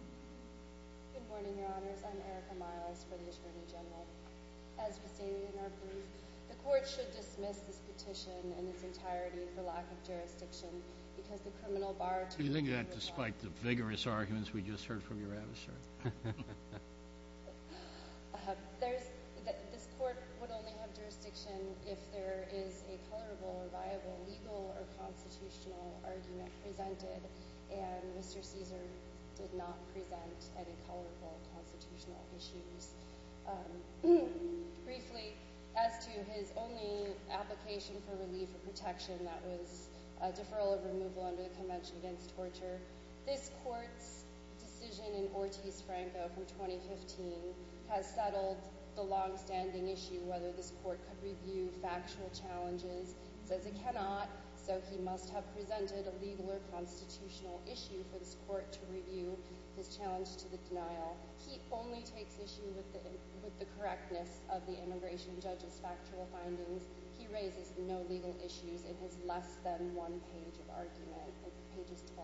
Good morning, Your Honors. I'm Erica Miles for the Attorney General. As was stated in our brief, the Court should dismiss this petition in its entirety for lack of jurisdiction because the criminal bar... Do you think that, despite the vigorous arguments we just heard from your adversary? This Court would only have jurisdiction if there is a colorable or viable legal or constitutional argument presented, and Mr. Cesar did not present any colorable constitutional issues. Briefly, as to his only application for relief or protection, that was a deferral of removal under the Convention Against Torture. This Court's decision in Ortiz-Franco from 2015 has settled the longstanding issue whether this Court could review factual challenges. It says it cannot, so he must have presented a legal or constitutional issue for this Court to review his challenge to the denial. He only takes issue with the correctness of the Immigration Judge's factual findings. He raises no legal issues in his less than one page of argument. Page 12-13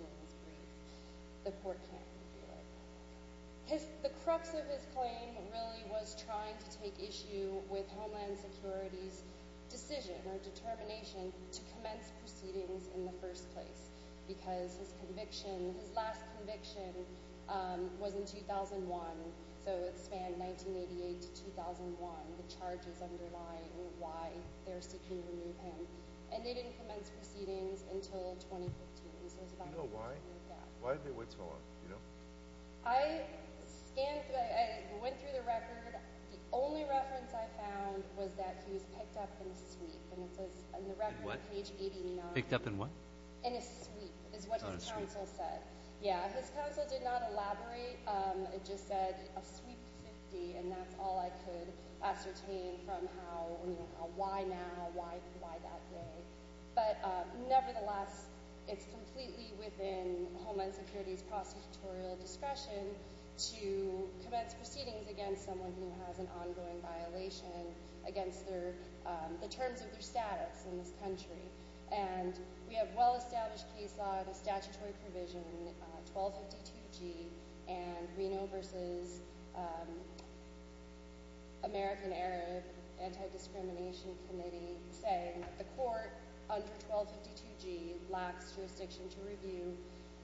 of his brief. The Court can't review it. The crux of his claim really was trying to take issue with Homeland Security's decision or determination to commence proceedings in the first place because his conviction, his last conviction, was in 2001. So it spanned 1988 to 2001, the charges underlying why they're seeking to remove him. And they didn't commence proceedings until 2015. Do you know why? Yeah. Why did they wait so long? I went through the record. The only reference I found was that he was picked up in a sweep. And it says on the record, page 89. Picked up in what? In a sweep, is what his counsel said. Yeah, his counsel did not elaborate. It just said a sweep 50, and that's all I could ascertain from how, you know, why now, why that day. But nevertheless, it's completely within Homeland Security's prosecutorial discretion to commence proceedings against someone who has an ongoing violation against the terms of their status in this country. And we have well-established case law and a statutory provision, 1252G, and Reno v. American Arab Anti-Discrimination Committee, saying that the court under 1252G lacks jurisdiction to review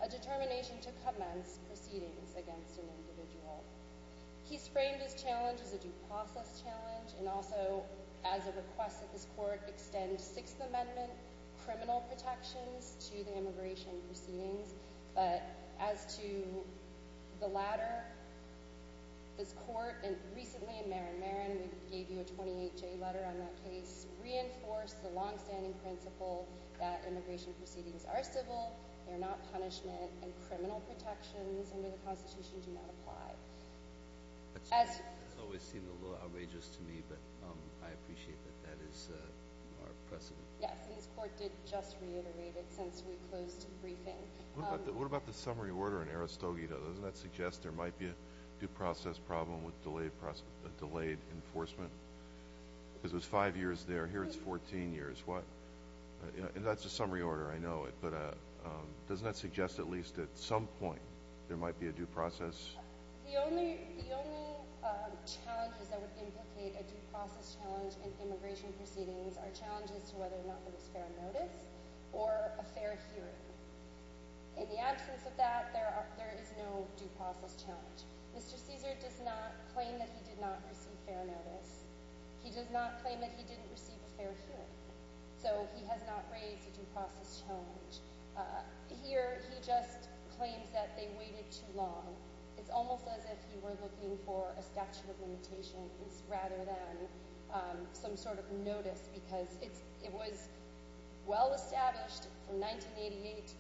a determination to commence proceedings against an individual. He's framed his challenge as a due process challenge and also as a request that this court extend Sixth Amendment criminal protections to the immigration proceedings. But as to the latter, this court recently in Marin Marin, we gave you a 28-J letter on that case, reinforced the longstanding principle that immigration proceedings are civil, they're not punishment, and criminal protections under the Constitution do not apply. That's always seemed a little outrageous to me, but I appreciate that that is our precedent. Yes, and this court did just reiterate it since we closed briefing. What about the summary order in Aristogeda? Doesn't that suggest there might be a due process problem with delayed enforcement? Because it was five years there, here it's 14 years. What? And that's a summary order, I know it, but doesn't that suggest at least at some point there might be a due process? The only challenges that would implicate a due process challenge in immigration proceedings are challenges to whether or not there was fair notice or a fair hearing. In the absence of that, there is no due process challenge. Mr. Caesar does not claim that he did not receive fair notice. He does not claim that he didn't receive a fair hearing, so he has not raised a due process challenge. Here he just claims that they waited too long. It's almost as if he were looking for a statute of limitations rather than some sort of notice, because it was well established from 1988 to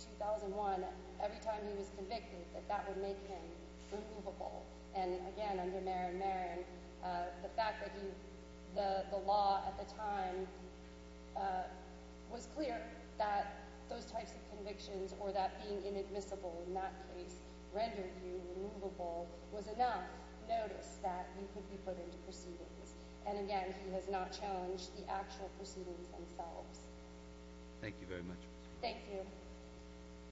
2001, every time he was convicted, that that would make him removable. And again, under Marin Marin, the fact that the law at the time was clear that those types of convictions, or that being inadmissible in that case rendered you removable, was enough notice that you could be put into proceedings. And again, he has not challenged the actual proceedings themselves. Thank you very much. Thank you.